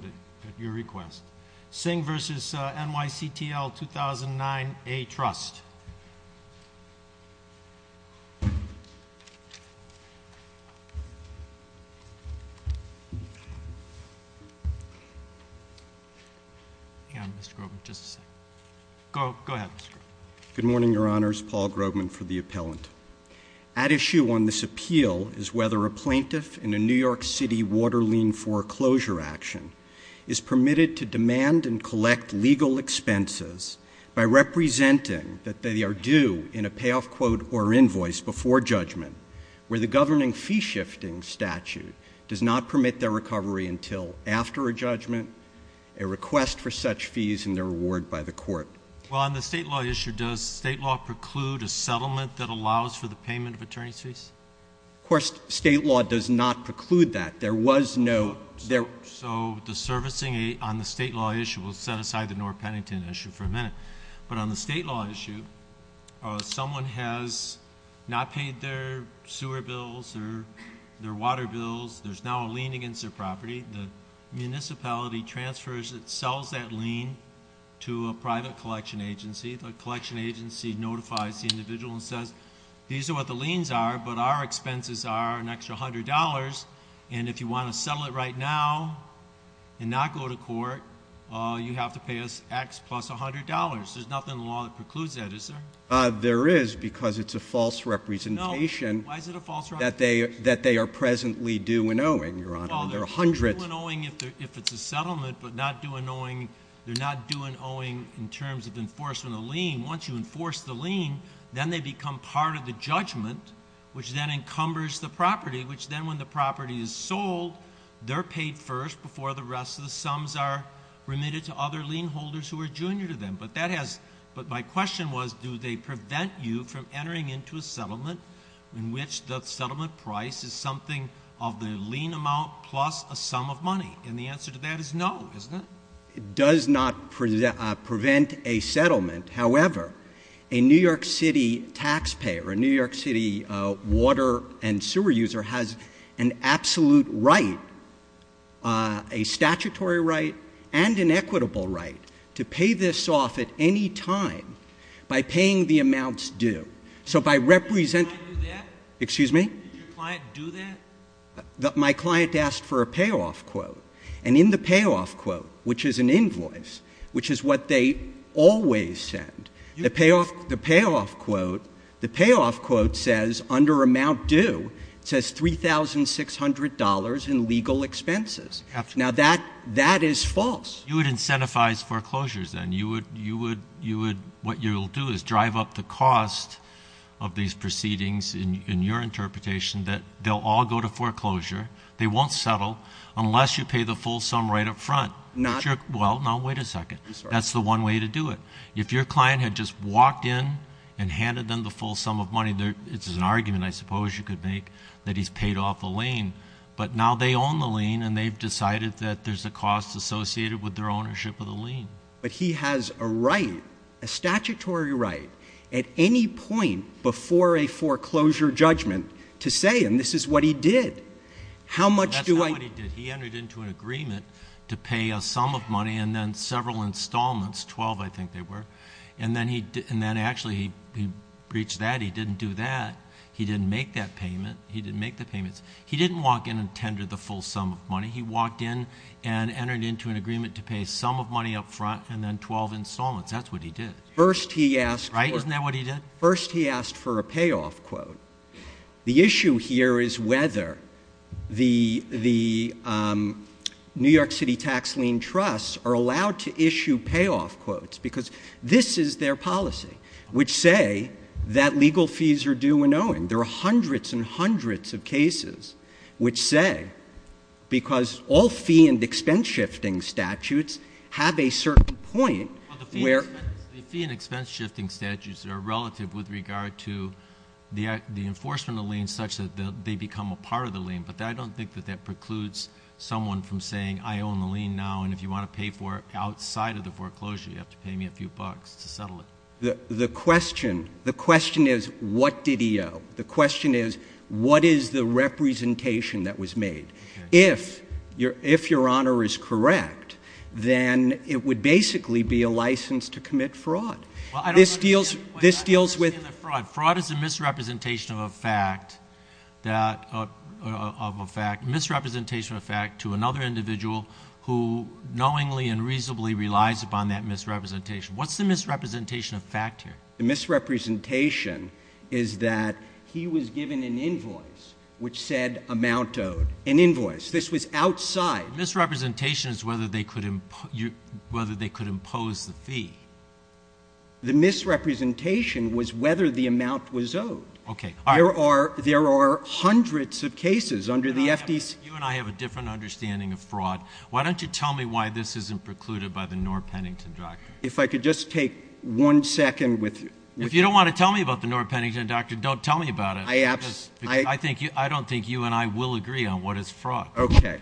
at your request. Singh v. NYCTL 2009-A Trust. Hang on, Mr. Grobman, just a second. Go ahead, Mr. Grobman. Good morning, Your Honors. Paul Grobman for the Appellant. At issue on this appeal is whether a plaintiff in a New York City water lien foreclosure action is permitted to demand and collect legal expenses by representing that they are due in a payoff quote or invoice before judgment, where the governing fee-shifting statute does not permit their recovery until after a judgment, a request for such fees, and their reward by the court. Well, on the state law issue, does state law preclude a settlement that allows for the payment of attorney's fees? Of course, state law does not preclude that. There was no... So the servicing on the state law issue, we'll set aside the North Pennington issue for a minute, but on the state law issue, someone has not paid their sewer bills or their water bills, there's now a lien against their property, the municipality transfers, it sells that lien to a private collection agency. The collection agency notifies the individual and says, these are what the liens are, but our expenses are an extra $100, and if you want to sell it right now and not go to court, you have to pay us X plus $100. There's nothing in the law that precludes that, is there? There is, because it's a false representation that they are presently due in owing, Your Honor. Well, they're due in owing if it's a settlement, but they're not due in owing in terms of enforcement of lien. Once you enforce the lien, then they become part of the judgment, which then encumbers the property, which then when the property is sold, they're paid first before the rest of the sums are remitted to other lien holders who are junior to them. But my question was, do they prevent you from entering into a settlement in which the settlement price is something of the lien amount plus a sum of money? And the answer to that is no, isn't it? It does not prevent a settlement. However, a New York City taxpayer, a New York City water and sewer user has an absolute right, a statutory right, and an equitable right to pay this off at any time by paying the amounts due. So by representing- Did your client do that? Excuse me? Did your client do that? My client asked for a payoff quote, and in the payoff quote, which is an invoice, which is what they always send, the payoff quote, the payoff quote says under amount due, it says $3,600 in legal expenses. Now that is false. You would incentivize foreclosures then? You would, what you'll do is drive up the cost of these proceedings in your interpretation that they'll all go to foreclosure, they won't settle unless you pay the full sum right up front. Not- Well, no, wait a second. I'm sorry. That's the one way to do it. If your client had just walked in and handed them the full sum of money, it's an argument I suppose you could make that he's paid off the lien, but now they own the lien and they've decided that there's a cost associated with their ownership of the lien. But he has a right, a statutory right, at any point before a foreclosure judgment to say, and this is what he did, how much do I- $3,600 of money and then several installments, 12 I think they were, and then actually he breached that. He didn't do that. He didn't make that payment. He didn't make the payments. He didn't walk in and tender the full sum of money. He walked in and entered into an agreement to pay a sum of money up front and then 12 installments. That's what he did. First he asked- Right? Isn't that what he did? First he asked for a payoff quote. The issue here is whether the New York City Tax Lien Trusts are allowed to issue payoff quotes, because this is their policy, which say that legal fees are due when owing. There are hundreds and hundreds of cases which say, because all fee and expense shifting statutes have a certain point where- The fee and expense shifting statutes are relative with regard to the enforcement of liens such that they become a part of the lien, but I don't think that that precludes someone from saying, I own the lien now and if you want to pay for it outside of the foreclosure, you have to pay me a few bucks to settle it. The question is, what did he owe? The question is, what is the representation that was made? If your Honor is correct, then it would basically be a license to commit fraud. This deals with- Fraud is a misrepresentation of a fact to another individual who knowingly and reasonably relies upon that misrepresentation. What's the misrepresentation of fact here? The misrepresentation is that he was given an invoice which said amount owed. An invoice. This was outside. Misrepresentation is whether they could impose the fee. The misrepresentation was whether the amount was owed. Okay. All right. There are hundreds of cases under the FDC- You and I have a different understanding of fraud. Why don't you tell me why this isn't precluded by the Noor-Pennington doctrine? If I could just take one second with- If you don't want to tell me about the Noor-Pennington doctrine, don't tell me about it. I don't think you and I will agree on what is fraud. Okay.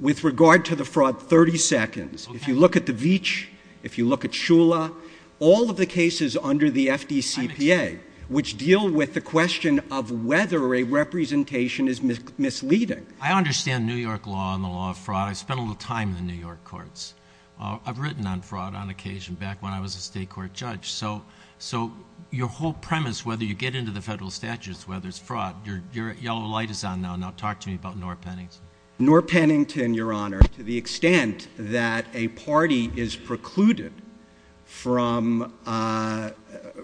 With regard to the fraud, 30 seconds. If you look at the Veatch, if you look at Shula, all of the cases under the FDCPA, which deal with the question of whether a representation is misleading- I understand New York law and the law of fraud. I spent a little time in the New York courts. I've written on fraud on occasion back when I was a state court judge. So your whole premise, whether you get into the federal statutes, whether it's fraud- Your yellow light is on now. Now talk to me about Noor-Pennington. Noor-Pennington, Your Honor, to the extent that a party is precluded from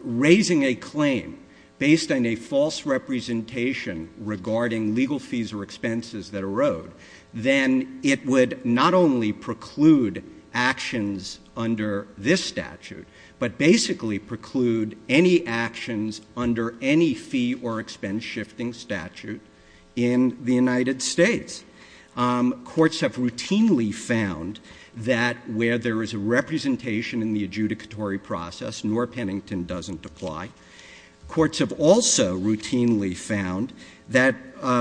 raising a claim based on a false representation regarding legal fees or expenses that erode, then it would not only preclude actions under this statute, but basically preclude any actions under any fee or expense-shifting statute in the United States. Courts have routinely found that where there is a representation in the adjudicatory process, Noor-Pennington doesn't apply. Courts have also routinely found that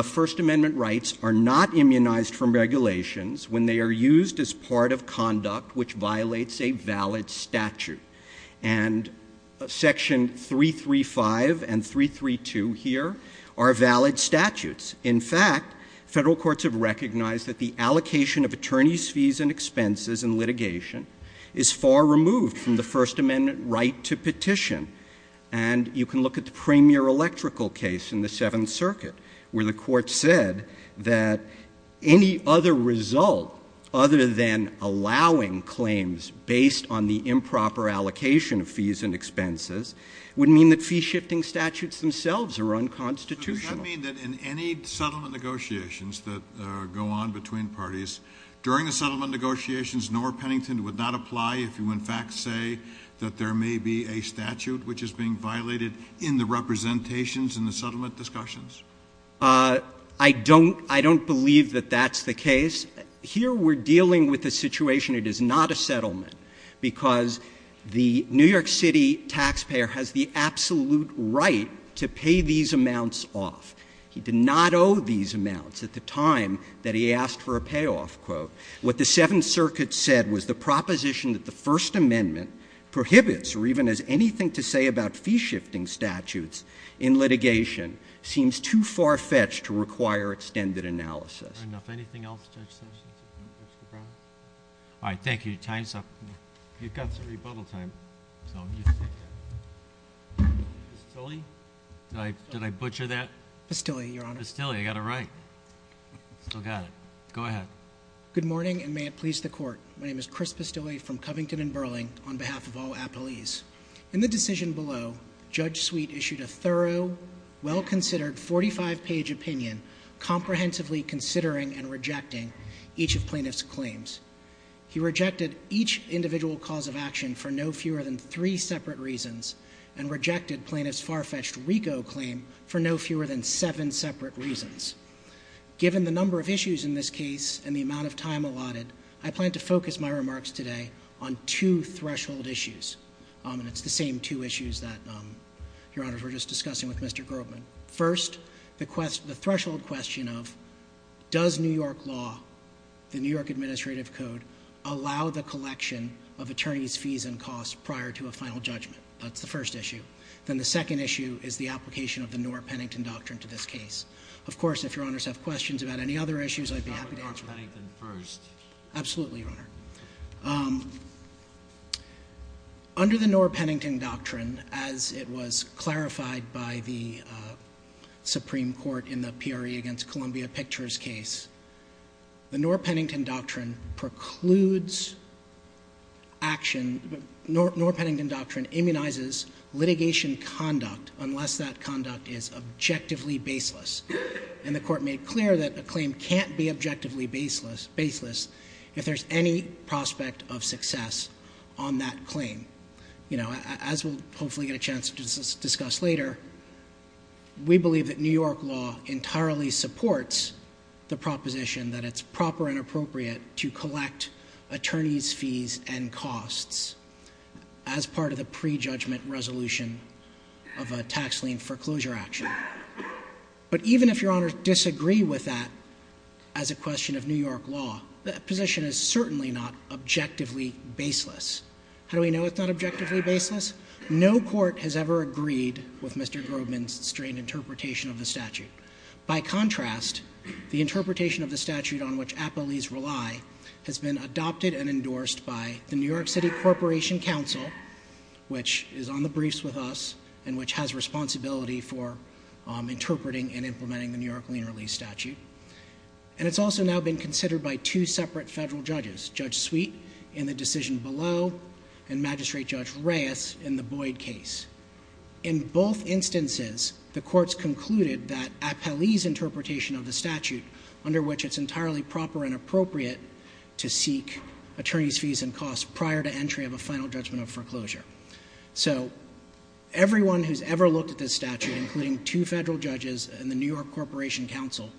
First Amendment rights are not immunized from regulations when they are used as part of conduct which violates a valid statute. And Section 335 and 332 here are valid statutes. In fact, federal courts have recognized that the allocation of attorneys' fees and expenses in litigation is far removed from the First Amendment right to petition. And you can look at the premier electrical case in the Seventh Circuit where the court said that any other result other than allowing claims based on the improper allocation of fees and expenses would mean that fee-shifting statutes themselves are unconstitutional. Does that mean that in any settlement negotiations that go on between parties, during the settlement negotiations, Noor-Pennington would not apply if you in fact say that there may be a statute which is being violated in the representations in the settlement discussions? I don't believe that that's the case. Here we're dealing with a situation, it is not a settlement, because the New York City taxpayer has the absolute right to pay these amounts off. He did not owe these amounts at the time that he asked for a payoff. What the Seventh Circuit said was the proposition that the First Amendment prohibits or even has anything to say about fee-shifting statutes in litigation seems too far-fetched to require extended analysis. All right, thank you. Your time is up. You've got some rebuttal time. Did I butcher that? Bastilli, Your Honor. Bastilli, I got it right. Still got it. Go ahead. Good morning, and may it please the Court. My name is Chris Bastilli from Covington and Burling on behalf of all appellees. In the decision below, Judge Sweet issued a thorough, well-considered 45-page opinion, comprehensively considering and rejecting each of plaintiff's claims. He rejected each individual cause of action for no fewer than three separate reasons and rejected plaintiff's far-fetched RICO claim for no fewer than seven separate reasons. Given the number of issues in this case and the amount of time allotted, I plan to focus my remarks today on two threshold issues, and it's the same two issues that, Your Honors, we're just discussing with Mr. Grobman. First, the threshold question of does New York law, the New York Administrative Code, allow the collection of attorneys' fees and costs prior to a final judgment? That's the first issue. Then the second issue is the application of the Norr-Pennington Doctrine to this case. Of course, if Your Honors have questions about any other issues, I'd be happy to answer them. Absolutely, Your Honor. Under the Norr-Pennington Doctrine, as it was clarified by the Supreme Court in the Peary v. Columbia Pictures case, the Norr-Pennington Doctrine precludes action Norr-Pennington Doctrine immunizes litigation conduct unless that conduct is objectively baseless. And the Court made clear that a claim can't be objectively baseless if there's any prospect of success on that claim. You know, as we'll hopefully get a chance to discuss later, we believe that New York law entirely supports the proposition that it's proper and appropriate to collect attorneys' fees and costs as part of the prejudgment resolution of a tax lien foreclosure action. But even if Your Honors disagree with that as a question of New York law, that position is certainly not objectively baseless. How do we know it's not objectively baseless? No court has ever agreed with Mr. Grobman's strained interpretation of the statute. By contrast, the interpretation of the statute on which appellees rely has been adopted and endorsed by the New York City Corporation Council, which is on the briefs with us and which has responsibility for interpreting and implementing the New York lien-release statute. And it's also now been considered by two separate federal judges, Judge Sweet in the decision below and Magistrate Judge Reyes in the Boyd case. In both instances, the courts concluded that appellees' interpretation of the statute, under which it's entirely proper and appropriate to seek attorneys' fees and costs prior to entry of a final judgment of foreclosure. So everyone who's ever looked at this statute, including two federal judges and the New York Corporation Council,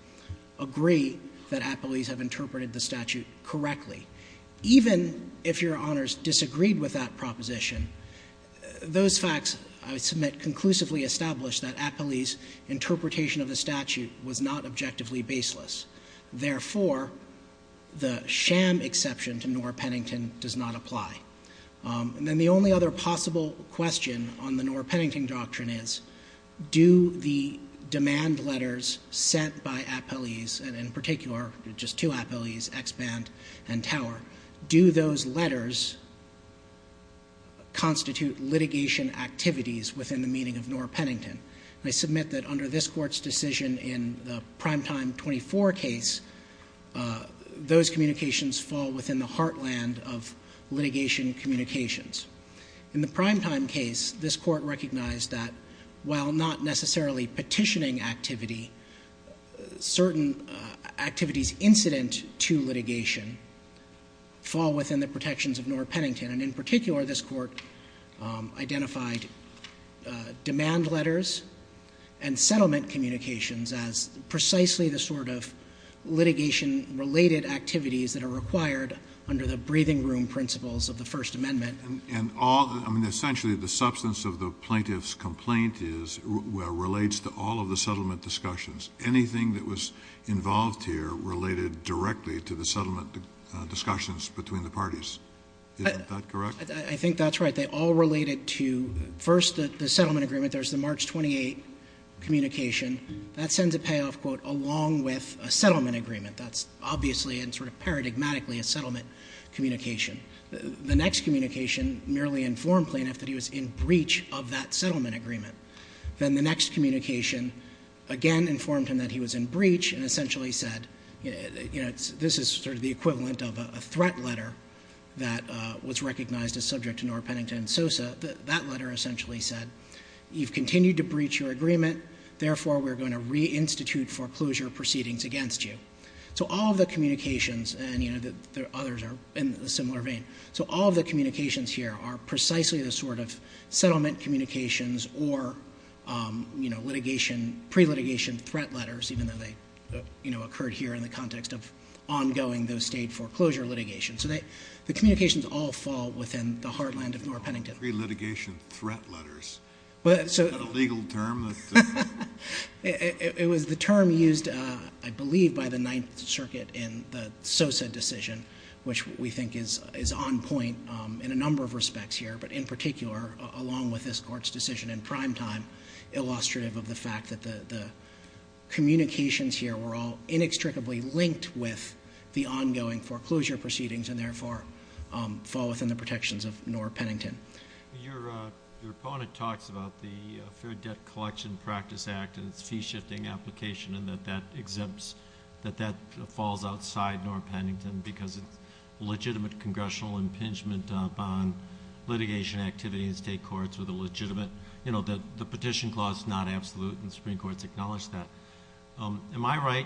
agree that appellees have interpreted the statute correctly. Even if Your Honors disagreed with that proposition, those facts, I would submit, conclusively established that appellees' interpretation of the statute was not objectively baseless. Therefore, the sham exception to Noor-Pennington does not apply. And then the only other possible question on the Noor-Pennington doctrine is, do the demand letters sent by appellees, and in particular just two appellees, Exband and Tower, do those letters constitute litigation activities within the meaning of Noor-Pennington? And I submit that under this Court's decision in the primetime 24 case, those communications fall within the heartland of litigation communications. In the primetime case, this Court recognized that while not necessarily petitioning activity, certain activities incident to litigation fall within the protections of Noor-Pennington. And in particular, this Court identified demand letters and settlement communications as precisely the sort of litigation-related activities that are required under the breathing room principles of the First Amendment. And all, I mean, essentially the substance of the plaintiff's complaint is, relates to all of the settlement discussions. Anything that was involved here related directly to the settlement discussions between the parties. Isn't that correct? I think that's right. They all related to, first, the settlement agreement. There's the March 28 communication. That sends a payoff, quote, along with a settlement agreement. That's obviously and sort of paradigmatically a settlement communication. The next communication merely informed plaintiff that he was in breach of that settlement agreement. Then the next communication, again, informed him that he was in breach and essentially said, you know, this is sort of the equivalent of a threat letter that was recognized as subject to Noor-Pennington and Sosa. That letter essentially said, you've continued to breach your agreement, therefore we're going to reinstitute foreclosure proceedings against you. So all of the communications, and, you know, the others are in a similar vein. So all of the communications here are precisely the sort of settlement communications or, you know, litigation, pre-litigation threat letters, even though they, you know, occurred here in the context of ongoing, the state foreclosure litigation. So the communications all fall within the heartland of Noor-Pennington. Pre-litigation threat letters. Is that a legal term? It was the term used, I believe, by the Ninth Circuit in the Sosa decision, which we think is on point in a number of respects here, but in particular along with this Court's decision in primetime, illustrative of the fact that the communications here were all inextricably linked with the ongoing foreclosure proceedings and therefore fall within the protections of Noor-Pennington. Your opponent talks about the Fair Debt Collection Practice Act and its fee-shifting application and that that exempts, that that falls outside Noor-Pennington because it's legitimate congressional impingement upon litigation activities in state courts with a legitimate, you know, the petition clause is not absolute and the Supreme Court's acknowledged that. Am I right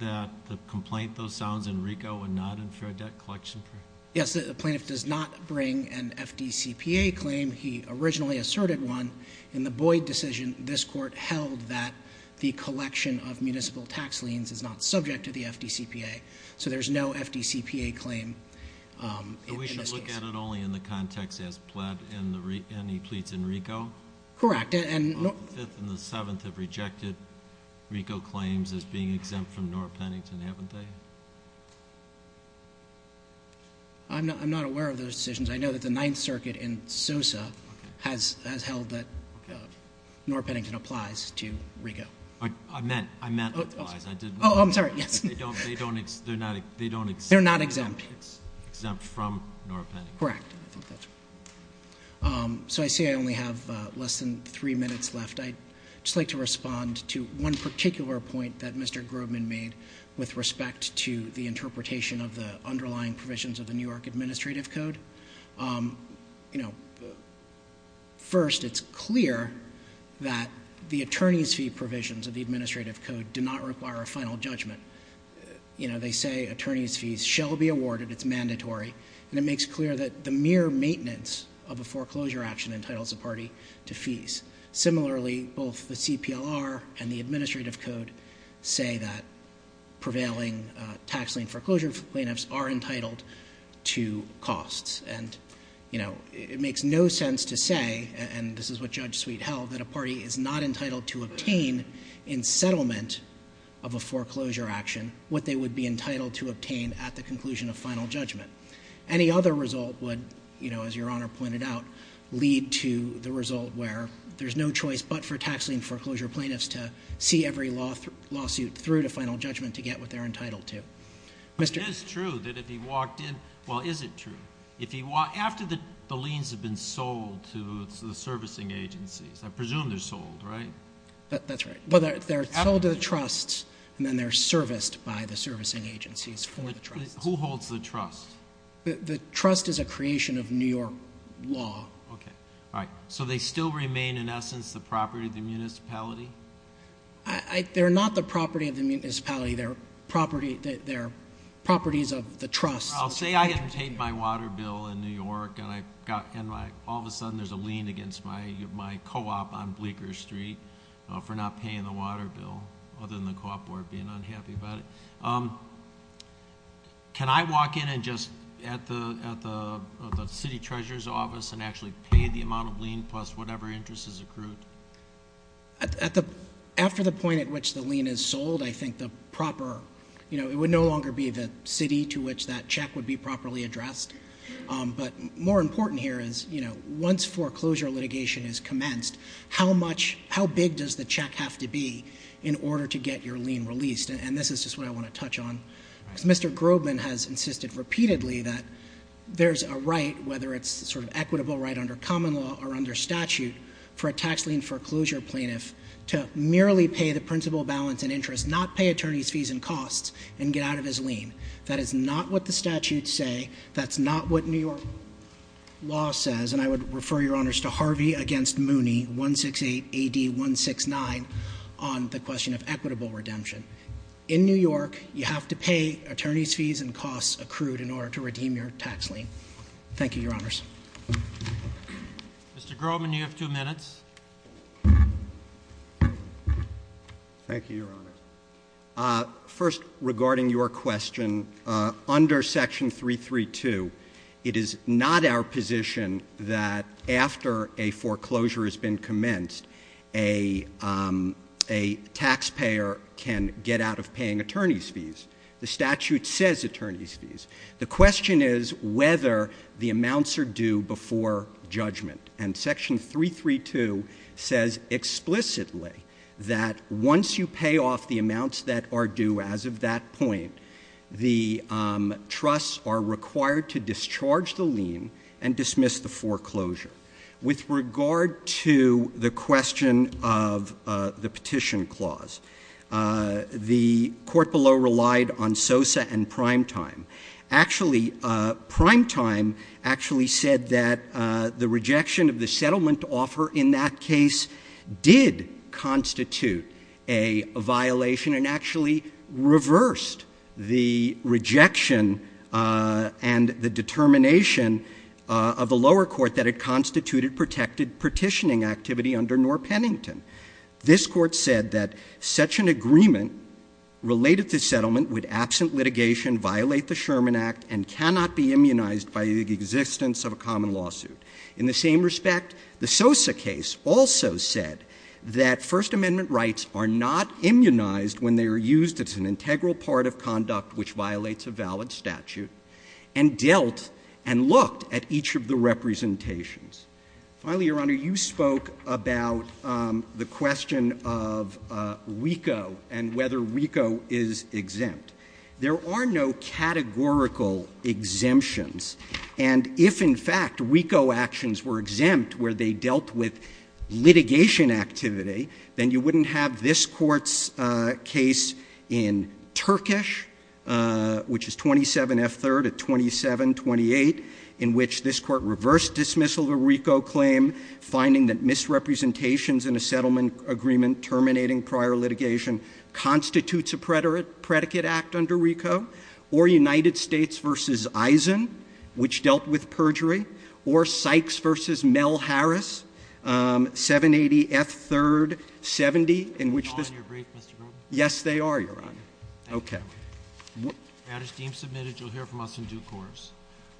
that the complaint, though, sounds in RICO and not in Fair Debt Collection Practice? Yes. The plaintiff does not bring an FDCPA claim. He originally asserted one. In the Boyd decision, this Court held that the collection of municipal tax liens is not subject to the FDCPA. So there's no FDCPA claim in this case. And we should look at it only in the context as pled, and he pleads in RICO? Correct. And the Fifth and the Seventh have rejected RICO claims as being exempt from I'm not aware of those decisions. I know that the Ninth Circuit in Sosa has, has held that Noor-Pennington applies to RICO. I meant, I meant it applies. Oh, I'm sorry. Yes. They don't, they don't, they're not, they don't. They're not exempt. It's exempt from Noor-Pennington. Correct. So I see I only have less than three minutes left. I'd just like to respond to one particular point that Mr. Grobman made with respect to the interpretation of the underlying provisions of the New York Administrative Code. You know, first it's clear that the attorney's fee provisions of the Administrative Code do not require a final judgment. You know, they say attorney's fees shall be awarded. It's mandatory. And it makes clear that the mere maintenance of a foreclosure action entitles a party to fees. Similarly, both the CPLR and the Administrative Code say that prevailing tax lien foreclosure plaintiffs are entitled to costs. And, you know, it makes no sense to say, and this is what Judge Sweet held, that a party is not entitled to obtain in settlement of a foreclosure action what they would be entitled to obtain at the conclusion of final judgment. Any other result would, you know, as Your Honor pointed out, lead to the result where there's no choice but for tax lien foreclosure plaintiffs to see every lawsuit through to final judgment to get what they're entitled to. It is true that if he walked in, well, is it true? After the liens have been sold to the servicing agencies, I presume they're sold, right? That's right. They're sold to the trusts and then they're serviced by the servicing agencies for the trusts. Who holds the trust? The trust is a creation of New York law. Okay. All right. So they still remain in essence the property of the municipality? They're not the property of the municipality. They're properties of the trust. I'll say I had paid my water bill in New York and all of a sudden there's a lien against my co-op on Bleeker Street for not paying the water bill other than the co-op board being unhappy about it. Can I walk in and just at the city treasurer's office and actually pay the amount of lien plus whatever interest is accrued? After the point at which the lien is sold, I think the proper, you know, it would no longer be the city to which that check would be properly addressed. But more important here is, you know, once foreclosure litigation is commenced, how big does the check have to be in order to get your lien released? And this is just what I want to touch on. Mr. Grobman has insisted repeatedly that there's a right, whether it's a sort of equitable right under common law or under statute for a tax lien foreclosure plaintiff to merely pay the principal balance and interest, not pay attorney's fees and costs, and get out of his lien. That is not what the statutes say. That's not what New York law says. And I would refer, Your Honors, to Harvey v. Mooney, 168 AD 169, on the question of equitable redemption. In New York, you have to pay attorney's fees and costs accrued in order to redeem your tax lien. Thank you, Your Honors. Mr. Grobman, you have two minutes. Thank you, Your Honors. First, regarding your question, under Section 332, it is not our position that after a foreclosure has been commenced, a taxpayer can get out of The statute says attorney's fees. The question is whether the amounts are due before judgment. And Section 332 says explicitly that once you pay off the amounts that are due as of that point, the trusts are required to discharge the lien and dismiss the foreclosure. With regard to the question of the petition clause, the court below relied on SOSA and primetime. Actually, primetime actually said that the rejection of the settlement offer in that case did constitute a violation and actually reversed the rejection and the determination of the lower court that it constituted protected petitioning activity under Noor-Pennington. This court said that such an agreement related to settlement with absent litigation violate the Sherman Act and cannot be immunized by the existence of a common lawsuit. In the same respect, the SOSA case also said that First Amendment rights are not immunized when they are used as an integral part of conduct which violates a valid statute and dealt and looked at each of the representations. Finally, Your Honor, you spoke about the question of WICO and whether WICO is exempt. There are no categorical exemptions. And if, in fact, WICO actions were exempt where they dealt with litigation activity, then you wouldn't have this Court's case in Turkish, which is 27F3rd 2728, in which this Court reversed dismissal of a WICO claim, finding that misrepresentations in a settlement agreement terminating prior litigation constitutes a predicate act under WICO, or United States v. Eisen, which dealt with perjury, or Sykes v. Mel Harris, 780F3rd 70, in which this — Are they all in your brief, Mr. Grob? Yes, they are, Your Honor. Okay. That is deemed submitted. You'll hear from us in due course.